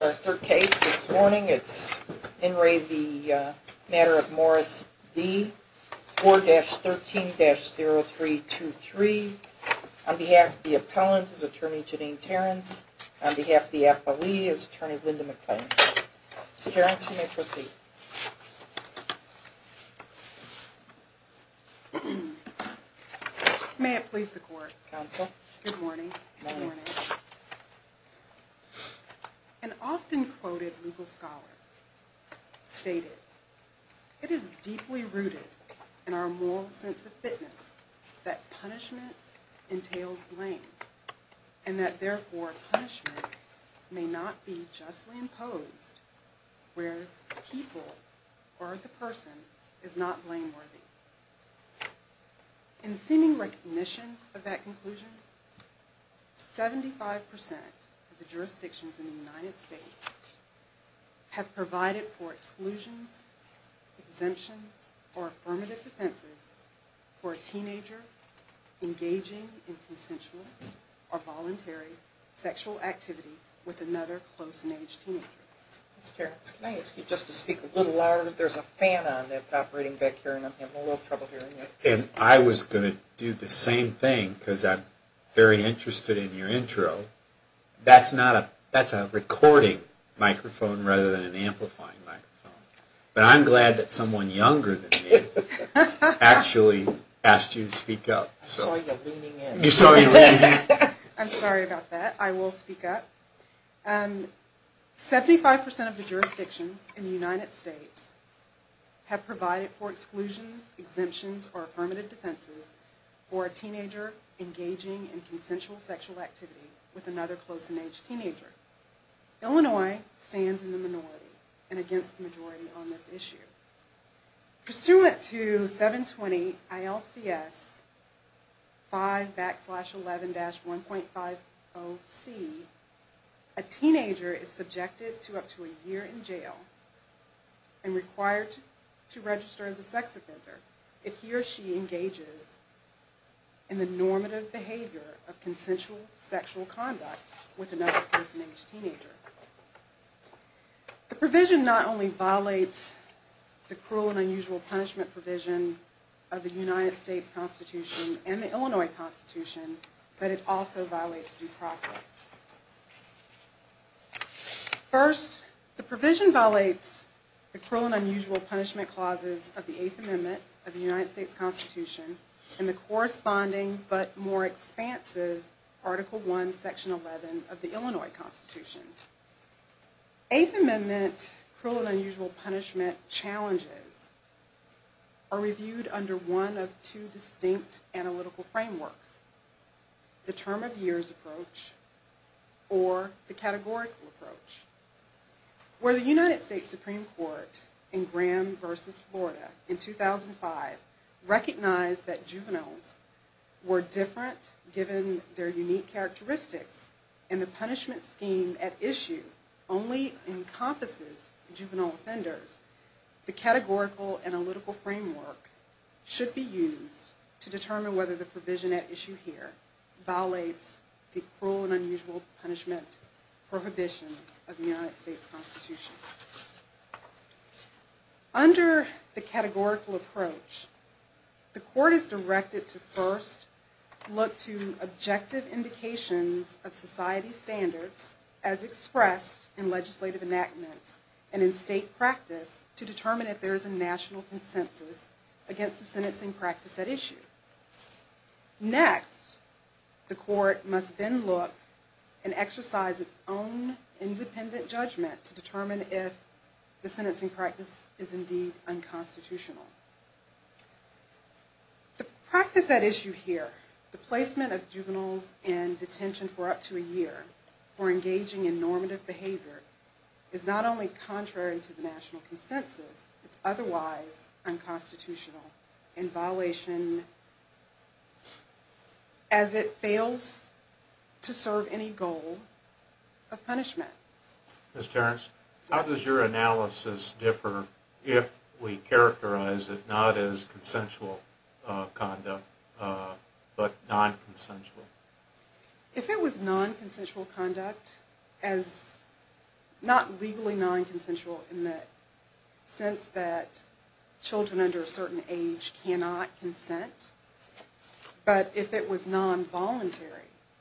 4-13-0323. On behalf of the appellant is Attorney Janine Terrence. On behalf of the appellee is Attorney Linda McClain. Ms. Terrence, you may proceed. May it please the court. Counsel. Good morning. Good morning. An often quoted legal scholar stated, It is deeply rooted in our moral sense of fitness that punishment entails blame, and that therefore punishment may not be justly imposed where people or the person is not blameworthy. In seeming recognition of that conclusion, 75% of the jurisdictions in the United States have provided for exclusions, exemptions, or affirmative defenses for a teenager engaging in consensual or voluntary sexual activity with another close in age teenager. Ms. Terrence, can I ask you just to speak a little louder? There's a fan on that's operating back here and I'm having a little trouble hearing you. And I was going to do the same thing because I'm very interested in your intro. That's not a, that's a recording microphone rather than an amplifying microphone. But I'm glad that someone younger than me actually asked you to speak up. I saw you leaning in. You saw me leaning in. I'm sorry about that. I will speak up. 75% of the jurisdictions in the United States have provided for exclusions, exemptions, or affirmative defenses for a teenager engaging in consensual sexual activity with another close in age teenager. Illinois stands in the minority and against the majority on this issue. Pursuant to 720 ILCS 5-11-1.50c, a teenager is subjected to up to a year in jail and required to register as a sex offender if he or she engages in the normative behavior of consensual sexual conduct with another close in age teenager. The provision not only violates the cruel and unusual punishment provision of the United States Constitution and the Illinois Constitution, but it also violates due process. First, the provision violates the cruel and unusual punishment clauses of the Eighth Amendment of the United States Constitution and the corresponding but more expansive Article I, Section 11 of the Illinois Constitution. Eighth Amendment cruel and unusual punishment challenges are reviewed under one of two distinct analytical frameworks. The term of years approach or the categorical approach. Where the United States Supreme Court in Graham v. Florida in 2005 recognized that juveniles were different given their unique characteristics and the punishment scheme at issue only encompasses juvenile offenders, the categorical analytical framework should be used to determine whether the provision at issue here violates the prohibitions of the United States Constitution. Under the categorical approach, the court is directed to first look to objective indications of society's standards as expressed in legislative enactments and in state practice to determine if there is a national consensus Next, the court must then look and exercise its own independent judgment to determine if the sentencing practice is indeed unconstitutional. The practice at issue here, the placement of juveniles in detention for up to a year for engaging in normative behavior is not only contrary to the national consensus, it's otherwise unconstitutional in violation as it fails to serve any goal of punishment. Ms. Terrence, how does your analysis differ if we characterize it not as consensual conduct but non-consensual? If it was non-consensual conduct, not legally non-consensual in the sense that children under a certain age cannot consent, but if it was non-voluntary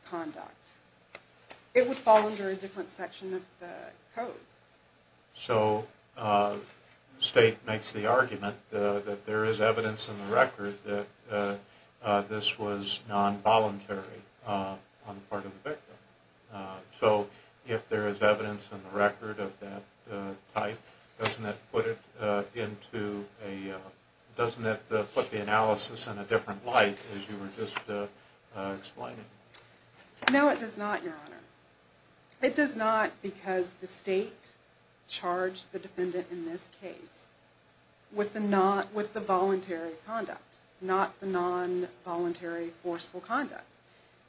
conduct, it would fall under a different section of the code. So the state makes the argument that there is evidence in the record that this was non-voluntary on the part of the victim. So if there is evidence in the record of that type, doesn't that put the analysis in a different light as you were just explaining? No, it does not, Your Honor. It does not because the state charged the defendant in this case with the voluntary conduct, not the non-voluntary forceful conduct.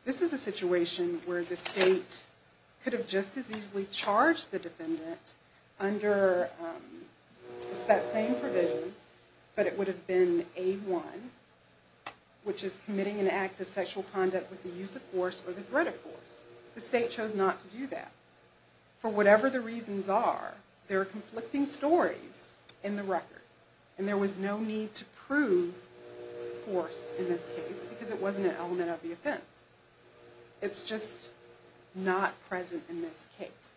This is a situation where the state could have just as easily charged the defendant under that same provision, but it would have been A1, which is committing an act of sexual conduct with the use of force or the threat of force. The state chose not to do that. For whatever the reasons are, there are conflicting stories in the record, and there was no need to prove force in this case because it wasn't an element of the offense. It's just not present in this case.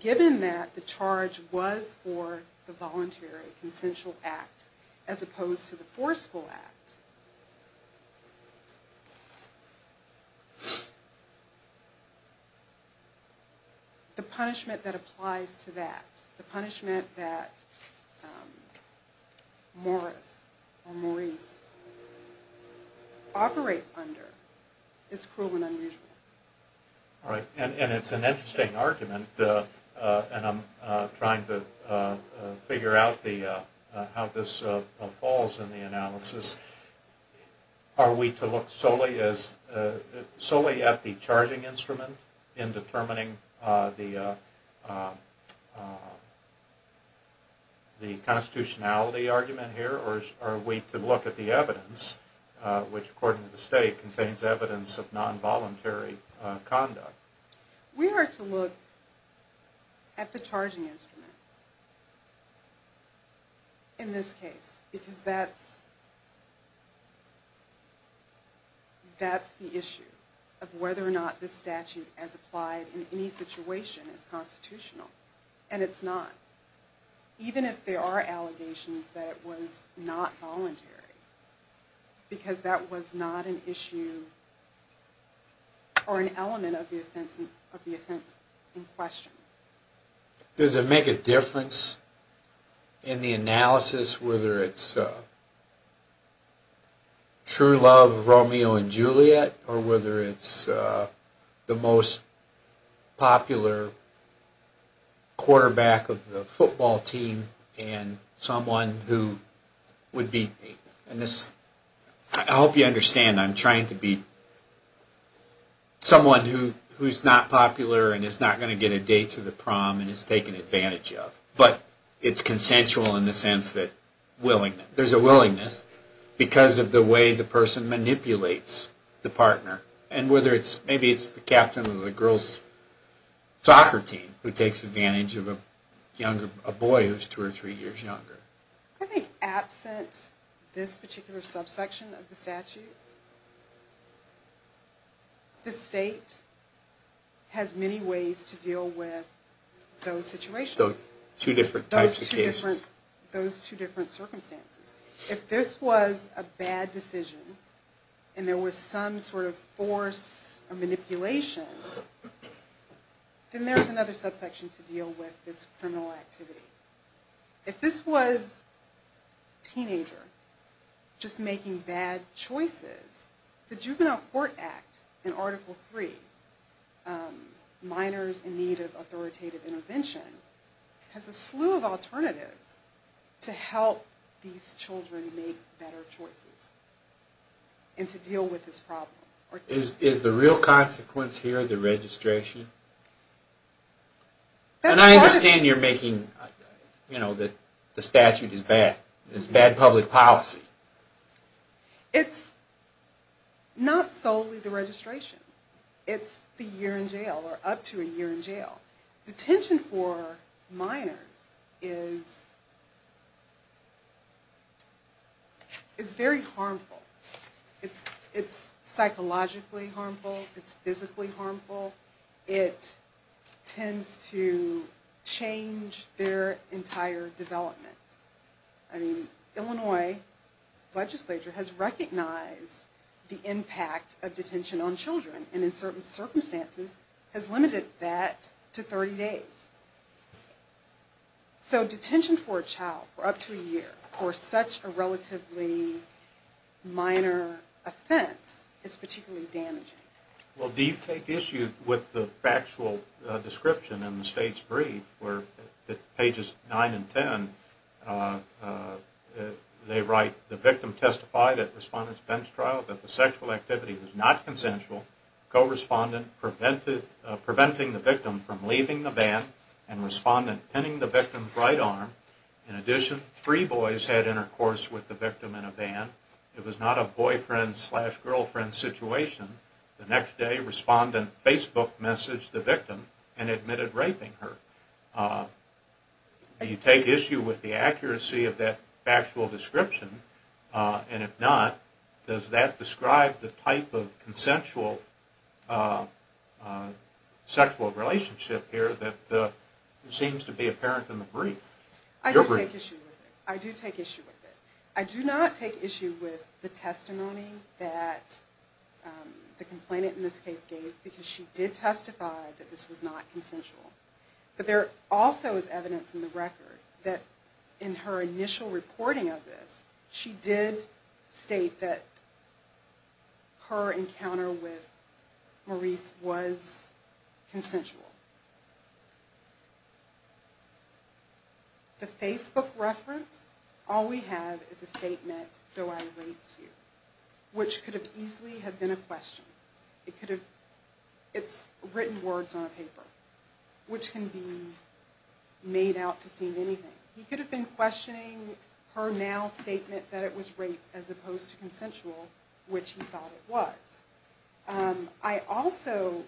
Given that the charge was for the voluntary consensual act as opposed to the forceful act, the punishment that applies to that, the punishment that Morris or Maurice operates under is cruel and unusual. All right, and it's an interesting argument, and I'm trying to figure out how this falls in the analysis. Are we to look solely at the charging instrument in determining the constitutionality argument here, or are we to look at the evidence, which according to the state contains evidence of non-voluntary conduct? We are to look at the charging instrument in this case, because that's the issue of whether or not the statute as applied in any situation is constitutional, and it's not. Even if there are allegations that it was not voluntary, because that was not an issue or an element of the offense in question. Does it make a difference in the analysis whether it's true love of Romeo and Juliet, or whether it's the most popular quarterback of the football team and someone who would beat me? I hope you understand I'm trying to beat someone who's not popular and is not going to get a date to the prom and is taken advantage of. But it's consensual in the sense that there's a willingness, because of the way the person manipulates the partner, and whether it's the captain of the girls' soccer team who takes advantage of a boy who's two or three years younger. I think absent this particular subsection of the statute, the state has many ways to deal with those situations, those two different circumstances. If this was a bad decision, and there was some sort of force or manipulation, then there's another subsection to deal with this criminal activity. If this was a teenager just making bad choices, the Juvenile Court Act in Article III, Minors in Need of Authoritative Intervention, has a slew of alternatives to help these children make better choices and to deal with this problem. Is the real consequence here the registration? And I understand you're making the statute is bad. It's bad public policy. It's not solely the registration. It's the year in jail, or up to a year in jail. Detention for minors is very harmful. It's psychologically harmful. It's physically harmful. It tends to change their entire development. Illinois legislature has recognized the impact of detention on children, and in certain circumstances has limited that to 30 days. So detention for a child for up to a year for such a relatively minor offense is particularly damaging. Well, do you take issue with the factual description in the state's brief where, pages 9 and 10, they write, the victim testified at respondent's bench trial that the sexual activity was not consensual, co-respondent preventing the victim from leaving the van, and respondent pinning the victim's right arm. In addition, three boys had intercourse with the victim in a van. It was not a boyfriend-slash-girlfriend situation. The next day, respondent Facebook messaged the victim and admitted raping her. Do you take issue with the accuracy of that factual description? And if not, does that describe the type of consensual sexual relationship here that seems to be apparent in the brief? I do take issue with it. I do not take issue with the testimony that the complainant in this case gave, because she did testify that this was not consensual. But there also is evidence in the record that in her initial reporting of this, she did state that her encounter with Maurice was consensual. The Facebook reference, all we have is a statement, so I raped you, which could have easily been a question. It's written words on a paper, which can be made out to seem anything. He could have been questioning her now statement that it was rape as opposed to consensual, which he thought it was. I also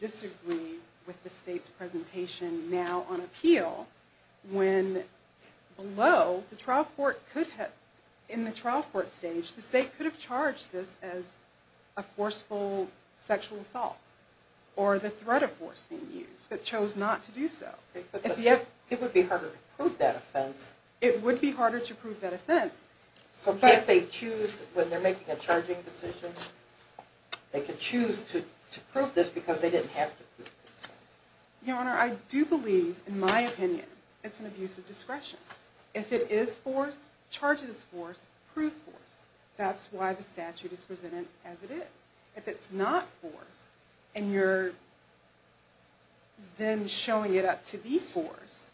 disagree with the state's presentation now on appeal, when below, in the trial court stage, the state could have charged this as a forceful sexual assault, or the threat of force being used, but chose not to do so. It would be harder to prove that offense. So can't they choose, when they're making a charging decision, they can choose to prove this because they didn't have to prove this? Your Honor, I do believe, in my opinion, it's an abuse of discretion. If it is force, charge it as force, prove force. That's why the statute is presented as it is. If it's not force, and you're then showing it up to be force,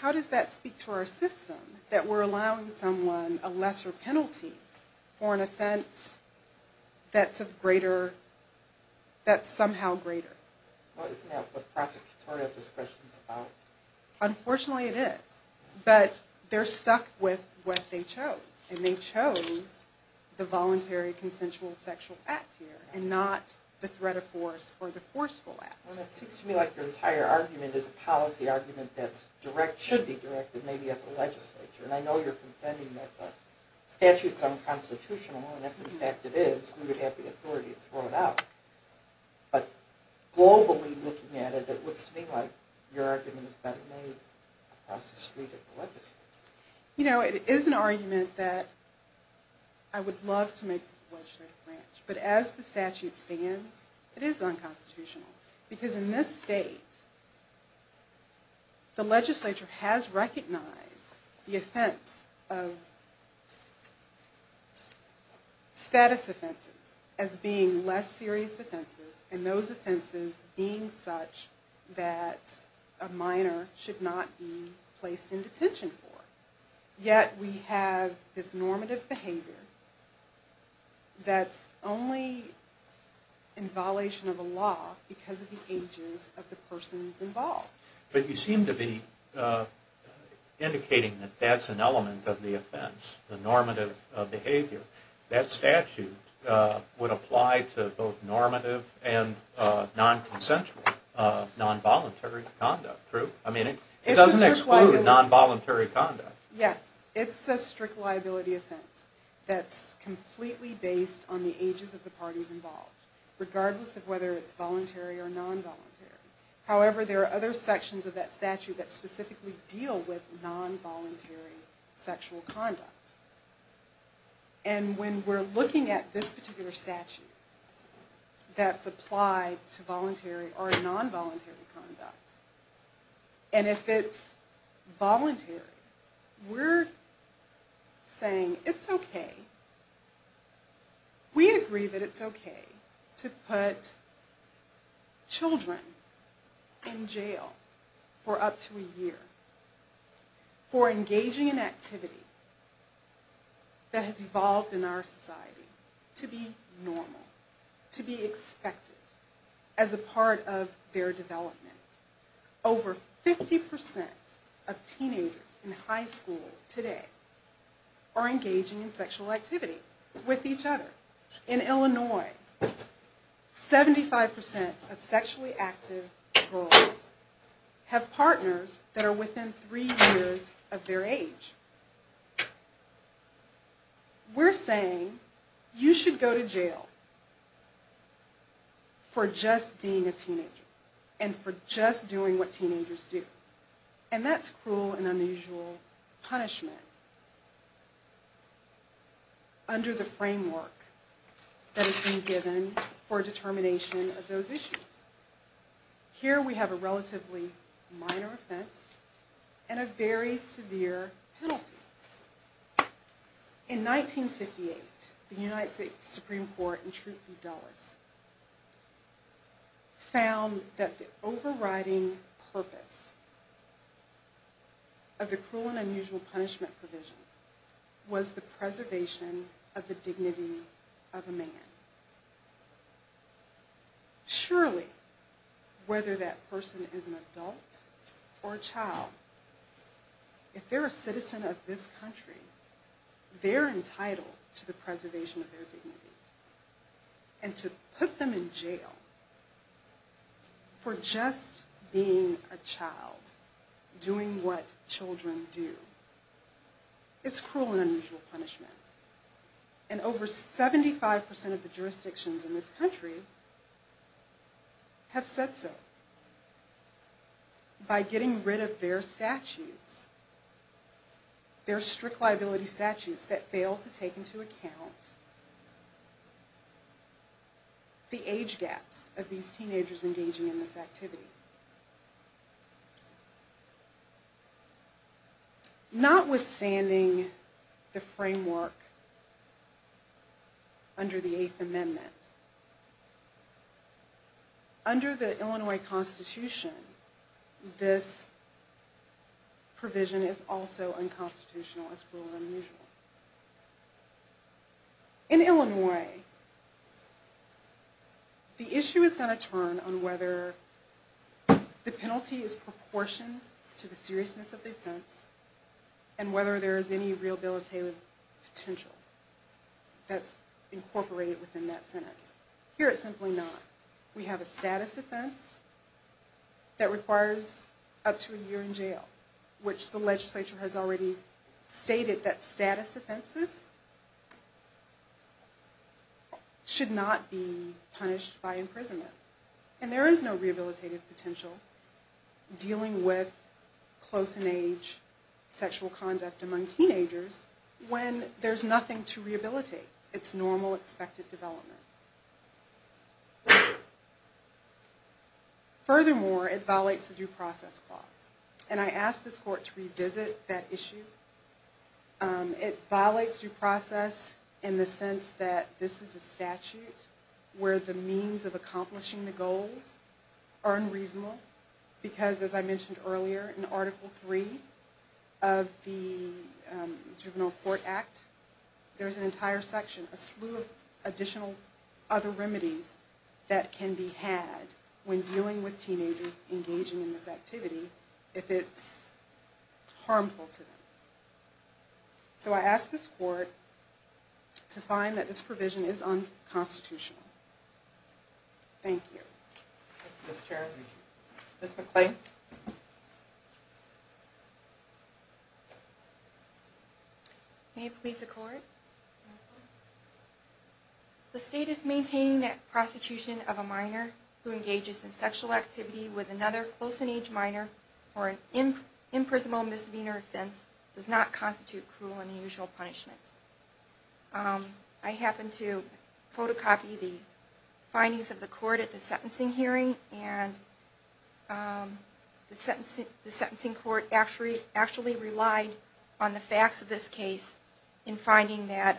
how does that speak to our system, that we're allowing someone a lesser penalty for an offense that's somehow greater? Isn't that what prosecutorial discretion is about? Unfortunately, it is. But they're stuck with what they chose. And they chose the voluntary consensual sexual act here, and not the threat of force or the forceful act. Well, it seems to me like your entire argument is a policy argument that should be directed maybe at the legislature. And I know you're contending that the statute's unconstitutional, and if in fact it is, we would have the authority to throw it out. But globally looking at it, it looks to me like your argument has been made across the street at the legislature. You know, it is an argument that I would love to make to the legislative branch. But as the statute stands, it is unconstitutional. Because in this state, the legislature has recognized the offense of status offenses as being less serious offenses. And those offenses being such that a minor should not be placed in detention for. Yet we have this normative behavior that's only in violation of a law because of the ages of the persons involved. But you seem to be indicating that that's an element of the offense, the normative behavior. That statute would apply to both normative and non-consensual non-voluntary conduct, true? I mean, it doesn't exclude non-voluntary conduct. Yes, it's a strict liability offense that's completely based on the ages of the parties involved, regardless of whether it's voluntary or non-voluntary. However, there are other sections of that statute that specifically deal with non-voluntary sexual conduct. And when we're looking at this particular statute that's applied to voluntary or non-voluntary conduct, and if it's voluntary, we're saying it's okay. We agree that it's okay to put children in jail for up to a year for engaging in activity that has evolved in our society to be normal, to be expected as a part of their development. Over 50% of teenagers in high school today are engaging in sexual activity with each other. In Illinois, 75% of sexually active girls have partners that are within three years of their age. We're saying you should go to jail for just being a teenager, for just doing what teenagers do. And that's cruel and unusual punishment under the framework that has been given for determination of those issues. Here we have a relatively minor offense and a very severe penalty. In 1958, the United States Supreme Court in Truth v. Dulles found that the overriding purpose of the cruel and unusual punishment provision was the preservation of the dignity of a man. Surely, whether that person is an adult or a child, if they're a citizen of this country, they're entitled to the preservation of their dignity and to put them in jail for just being a child, doing what children do. It's cruel and unusual punishment. And over 75% of the jurisdictions in this country have said so. By getting rid of their statutes, their strict liability statutes, that fail to take into account the age gaps of these teenagers engaging in this activity. Notwithstanding the framework under the Eighth Amendment, under the Illinois Constitution, this provision is also unconstitutional as cruel and unusual. In Illinois, the issue is going to turn on whether the penalty is proportioned to the seriousness of the offense and whether there is any rehabilitative potential that's incorporated within that sentence. Here it's simply not. We have a status offense that requires up to a year in jail, which the legislature has already stated that status offenses should not be punished by imprisonment. And there is no rehabilitative potential dealing with close-in-age sexual conduct among teenagers when there's nothing to rehabilitate. It's normal, expected development. Furthermore, it violates the Due Process Clause. And I ask this court to revisit that issue. It violates due process in the sense that this is a statute where the means of accomplishing the goals are unreasonable. Because as I mentioned earlier, in Article 3 of the Juvenile Court Act, there's an entire section, a slew of additional other remedies that can be had when dealing with teenagers engaging in this activity if it's harmful to them. So I ask this court to find that this provision is unconstitutional. Thank you. Ms. McClain. May it please the court. The status maintaining that prosecution of a minor who engages in sexual activity with another close-in-age minor for an imprisonable misdemeanor offense does not constitute cruel and unusual punishment. I happened to photocopy the findings of the court at the sentencing hearing and the sentencing court actually relied on the facts of this case in finding that,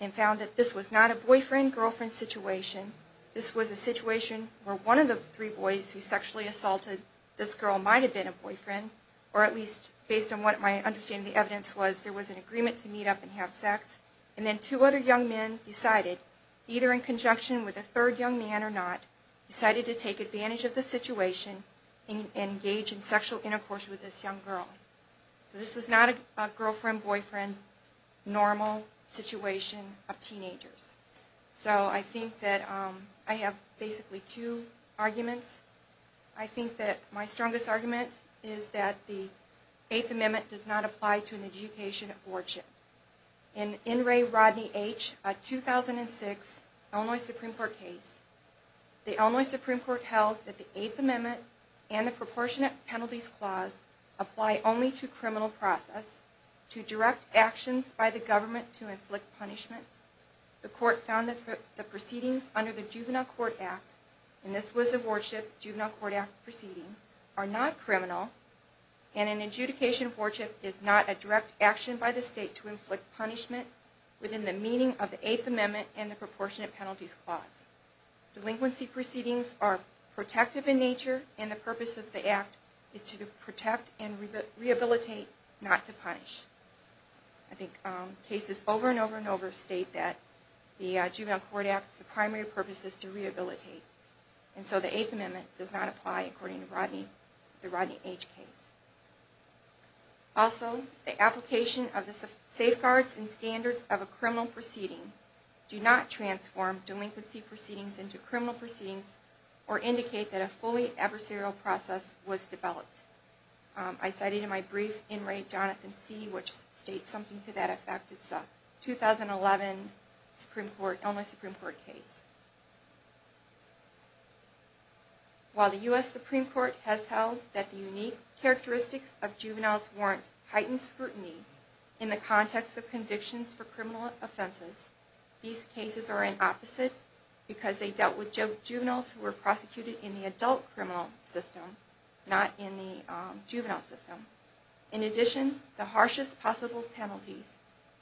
and found that this was not a boyfriend-girlfriend situation. This was a situation where one of the three boys who sexually assaulted this girl might have been a boyfriend, or at least based on what my understanding of the evidence was, there was an agreement to meet up and have sex. And then two other young men decided, either in conjunction with a third young man or not, decided to take advantage of the situation and engage in sexual intercourse with this young girl. So this was not a girlfriend-boyfriend normal situation of teenagers. So I think that I have basically two arguments. I think that my strongest argument is that the Eighth Amendment does not apply to an education of wardship. In N. Ray Rodney H., a 2006 Illinois Supreme Court case, the Illinois Supreme Court held that the Eighth Amendment and the Proportionate Penalties Clause apply only to criminal process, to direct actions by the government to inflict punishment. The court found that the proceedings under the Juvenile Court Act, and this was a wardship juvenile court proceeding, are not criminal, and an adjudication of wardship is not a direct action by the state to inflict punishment within the meaning of the Eighth Amendment and the Proportionate Penalties Clause. Delinquency proceedings are protective in nature, and the purpose of the act is to protect and rehabilitate, not to punish. I think cases over and over and over state that the Juvenile Court Act's primary purpose is to rehabilitate. And so the Eighth Amendment does not apply according to the Rodney H. case. Also, the application of the safeguards and standards of a criminal proceeding do not transform delinquency proceedings into criminal proceedings or indicate that a fully adversarial process was developed. I cited in my brief, In Re. Jonathan C., which states something to that effect. It's a 2011 Supreme Court, Illinois Supreme Court case. While the U.S. Supreme Court has held that the unique characteristics of juveniles warrant heightened scrutiny in the context of convictions for criminal offenses, these cases are an opposite because they dealt with juveniles who were prosecuted in the adult criminal system, not in the juvenile system. In addition, the harshest possible penalties,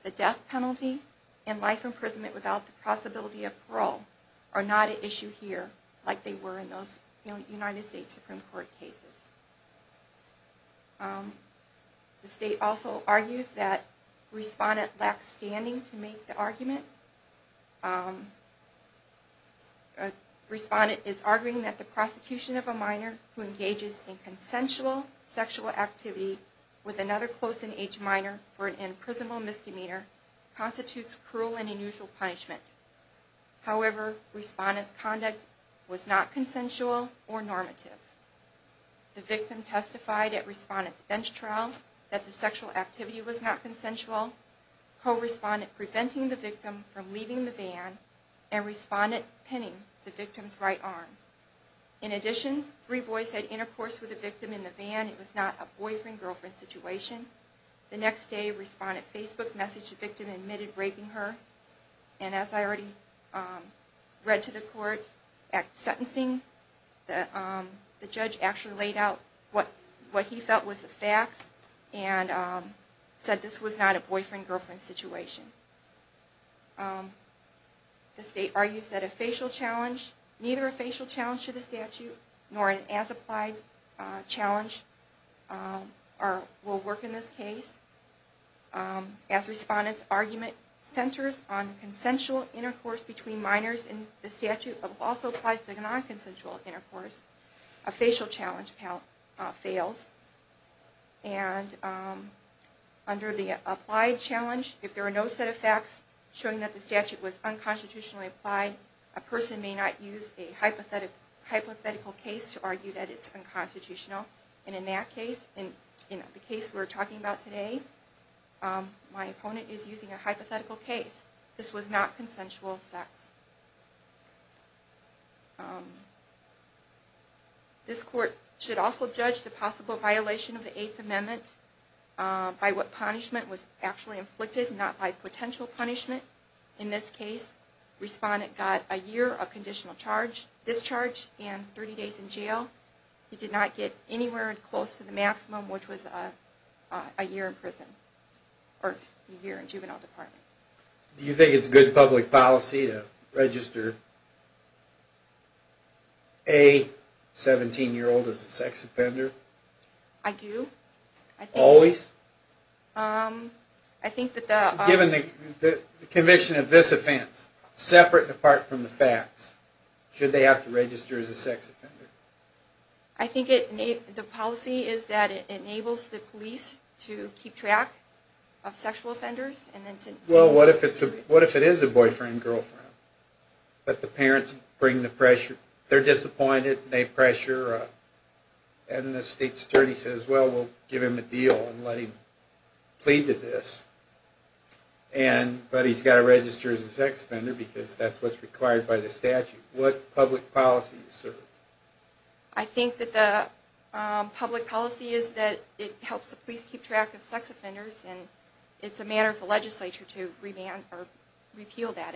the death penalty and life imprisonment without the possibility of parole, are not at issue here like they were in those United States Supreme Court cases. The state also argues that respondents lack standing to make the argument. Respondent is arguing that the prosecution of a minor who engages in consensual sexual activity with another close in age minor for an imprisonable misdemeanor constitutes cruel and unusual punishment. However, respondent's conduct was not consensual or normative. The victim testified at respondent's bench trial that the sexual activity was not consensual. Co-respondent preventing the victim from leaving the van and respondent pinning the victim's right arm. In addition, three boys had intercourse with the victim in the van. It was not a boyfriend-girlfriend situation. The next day, respondent Facebook messaged the victim admitting raping her. And as I already read to the court at sentencing, the judge actually laid out what he felt was the facts and said this was not a boyfriend-girlfriend situation. The state argues that a facial challenge, neither a facial challenge to the statute nor an as-applied challenge, will work in this case. As respondent's argument centers on consensual intercourse between minors in the statute but also applies to non-consensual intercourse, a facial challenge fails. Under the applied challenge, if there are no set of facts showing that the statute was unconstitutionally applied, a person may not use a hypothetical case to argue that it's unconstitutional. In the case we're talking about today, my opponent is using a hypothetical case. This was not consensual sex. This court should also judge the possible violation of the Eighth Amendment by what punishment was actually inflicted, not by potential punishment. In this case, respondent got a year of conditional discharge and 30 days in jail. He did not get anywhere close to the maximum, which was a year in prison, or a year in juvenile department. Do you think it's good public policy to register a 17-year-old as a sex offender? I do. Always? Given the conviction of this offense, separate and apart from the facts, should they have to register as a sex offender? I think the policy is that it enables the police to keep track of sexual offenders. Well, what if it is a boyfriend-girlfriend, but the parents bring the pressure? They're disappointed, they pressure, and the state attorney says, well, we'll give him a deal and let him plead to this. But he's got to register as a sex offender because that's what's required by the statute. What public policy is served? I think that the public policy is that it helps the police keep track of sex offenders, and it's a matter for the legislature to repeal that.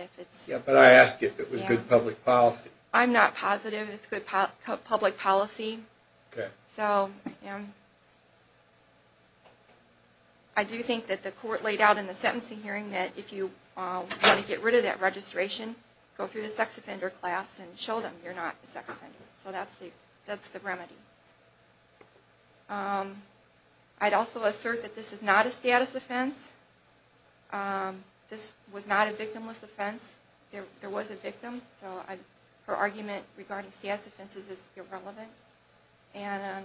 But I asked if it was good public policy. I'm not positive it's good public policy. I do think that the court laid out in the sentencing hearing that if you want to get rid of that registration, go through the sex offender class and show them you're not a sex offender. So that's the remedy. I'd also assert that this is not a status offense. This was not a victimless offense. There was a victim, so her argument regarding status offenses is irrelevant. And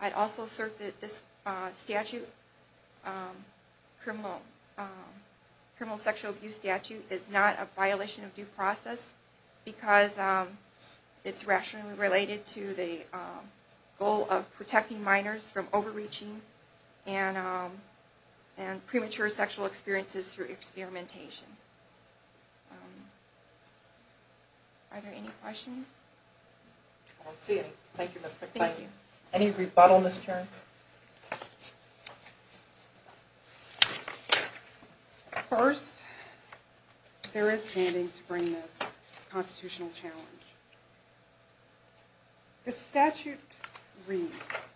I'd also assert that this statute, criminal sexual abuse statute, is not a violation of due process, because it's rationally related to the statute. It's a goal of protecting minors from overreaching and premature sexual experiences through experimentation. Are there any questions? First, there is standing to bring this constitutional challenge. The statute reads,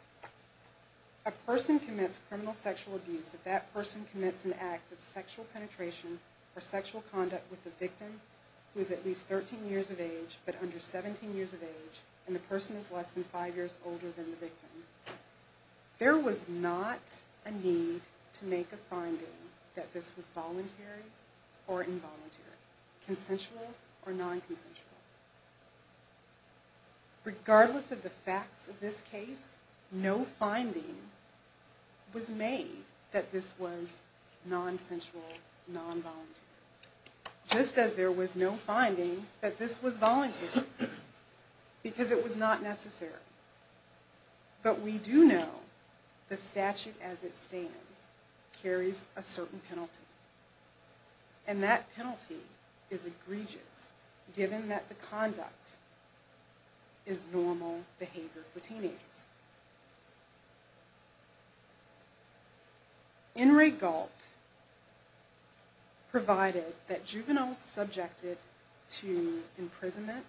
a person commits criminal sexual abuse if that person commits an act of sexual penetration or sexual conduct with a victim who is at least 13 years of age, but under 17 years of age, and the person is less than 5 years older than the victim. There was not a need to make a finding that this was voluntary or involuntary, consensual or non-consensual. Regardless of the facts of this case, no finding was made that this was non-consensual, non-voluntary. Just as there was no finding that this was voluntary, because it was not necessary. But we do know the statute as it stands carries a certain penalty. And that penalty is egregious, given that the conduct is normal behavior for teenagers. In re Galt, provided that juveniles subjected to imprisonment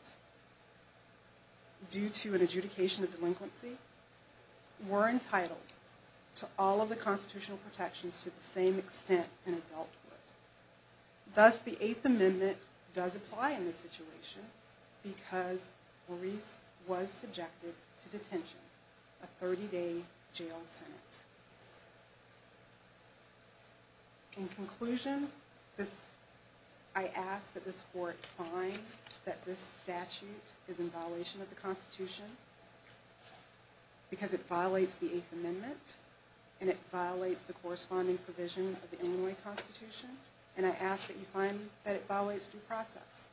due to an adjudication of delinquency were entitled to all of the constitutional protections to the same extent in adulthood. Thus, the Eighth Amendment does apply in this situation, because Maurice was subjected to detention, a 30 day jail sentence. In conclusion, I ask that this court find that this statute is in violation of the Constitution, because it violates the Eighth Amendment, and it violates the corresponding provision of the Illinois Constitution. And I ask that you find that it violates due process.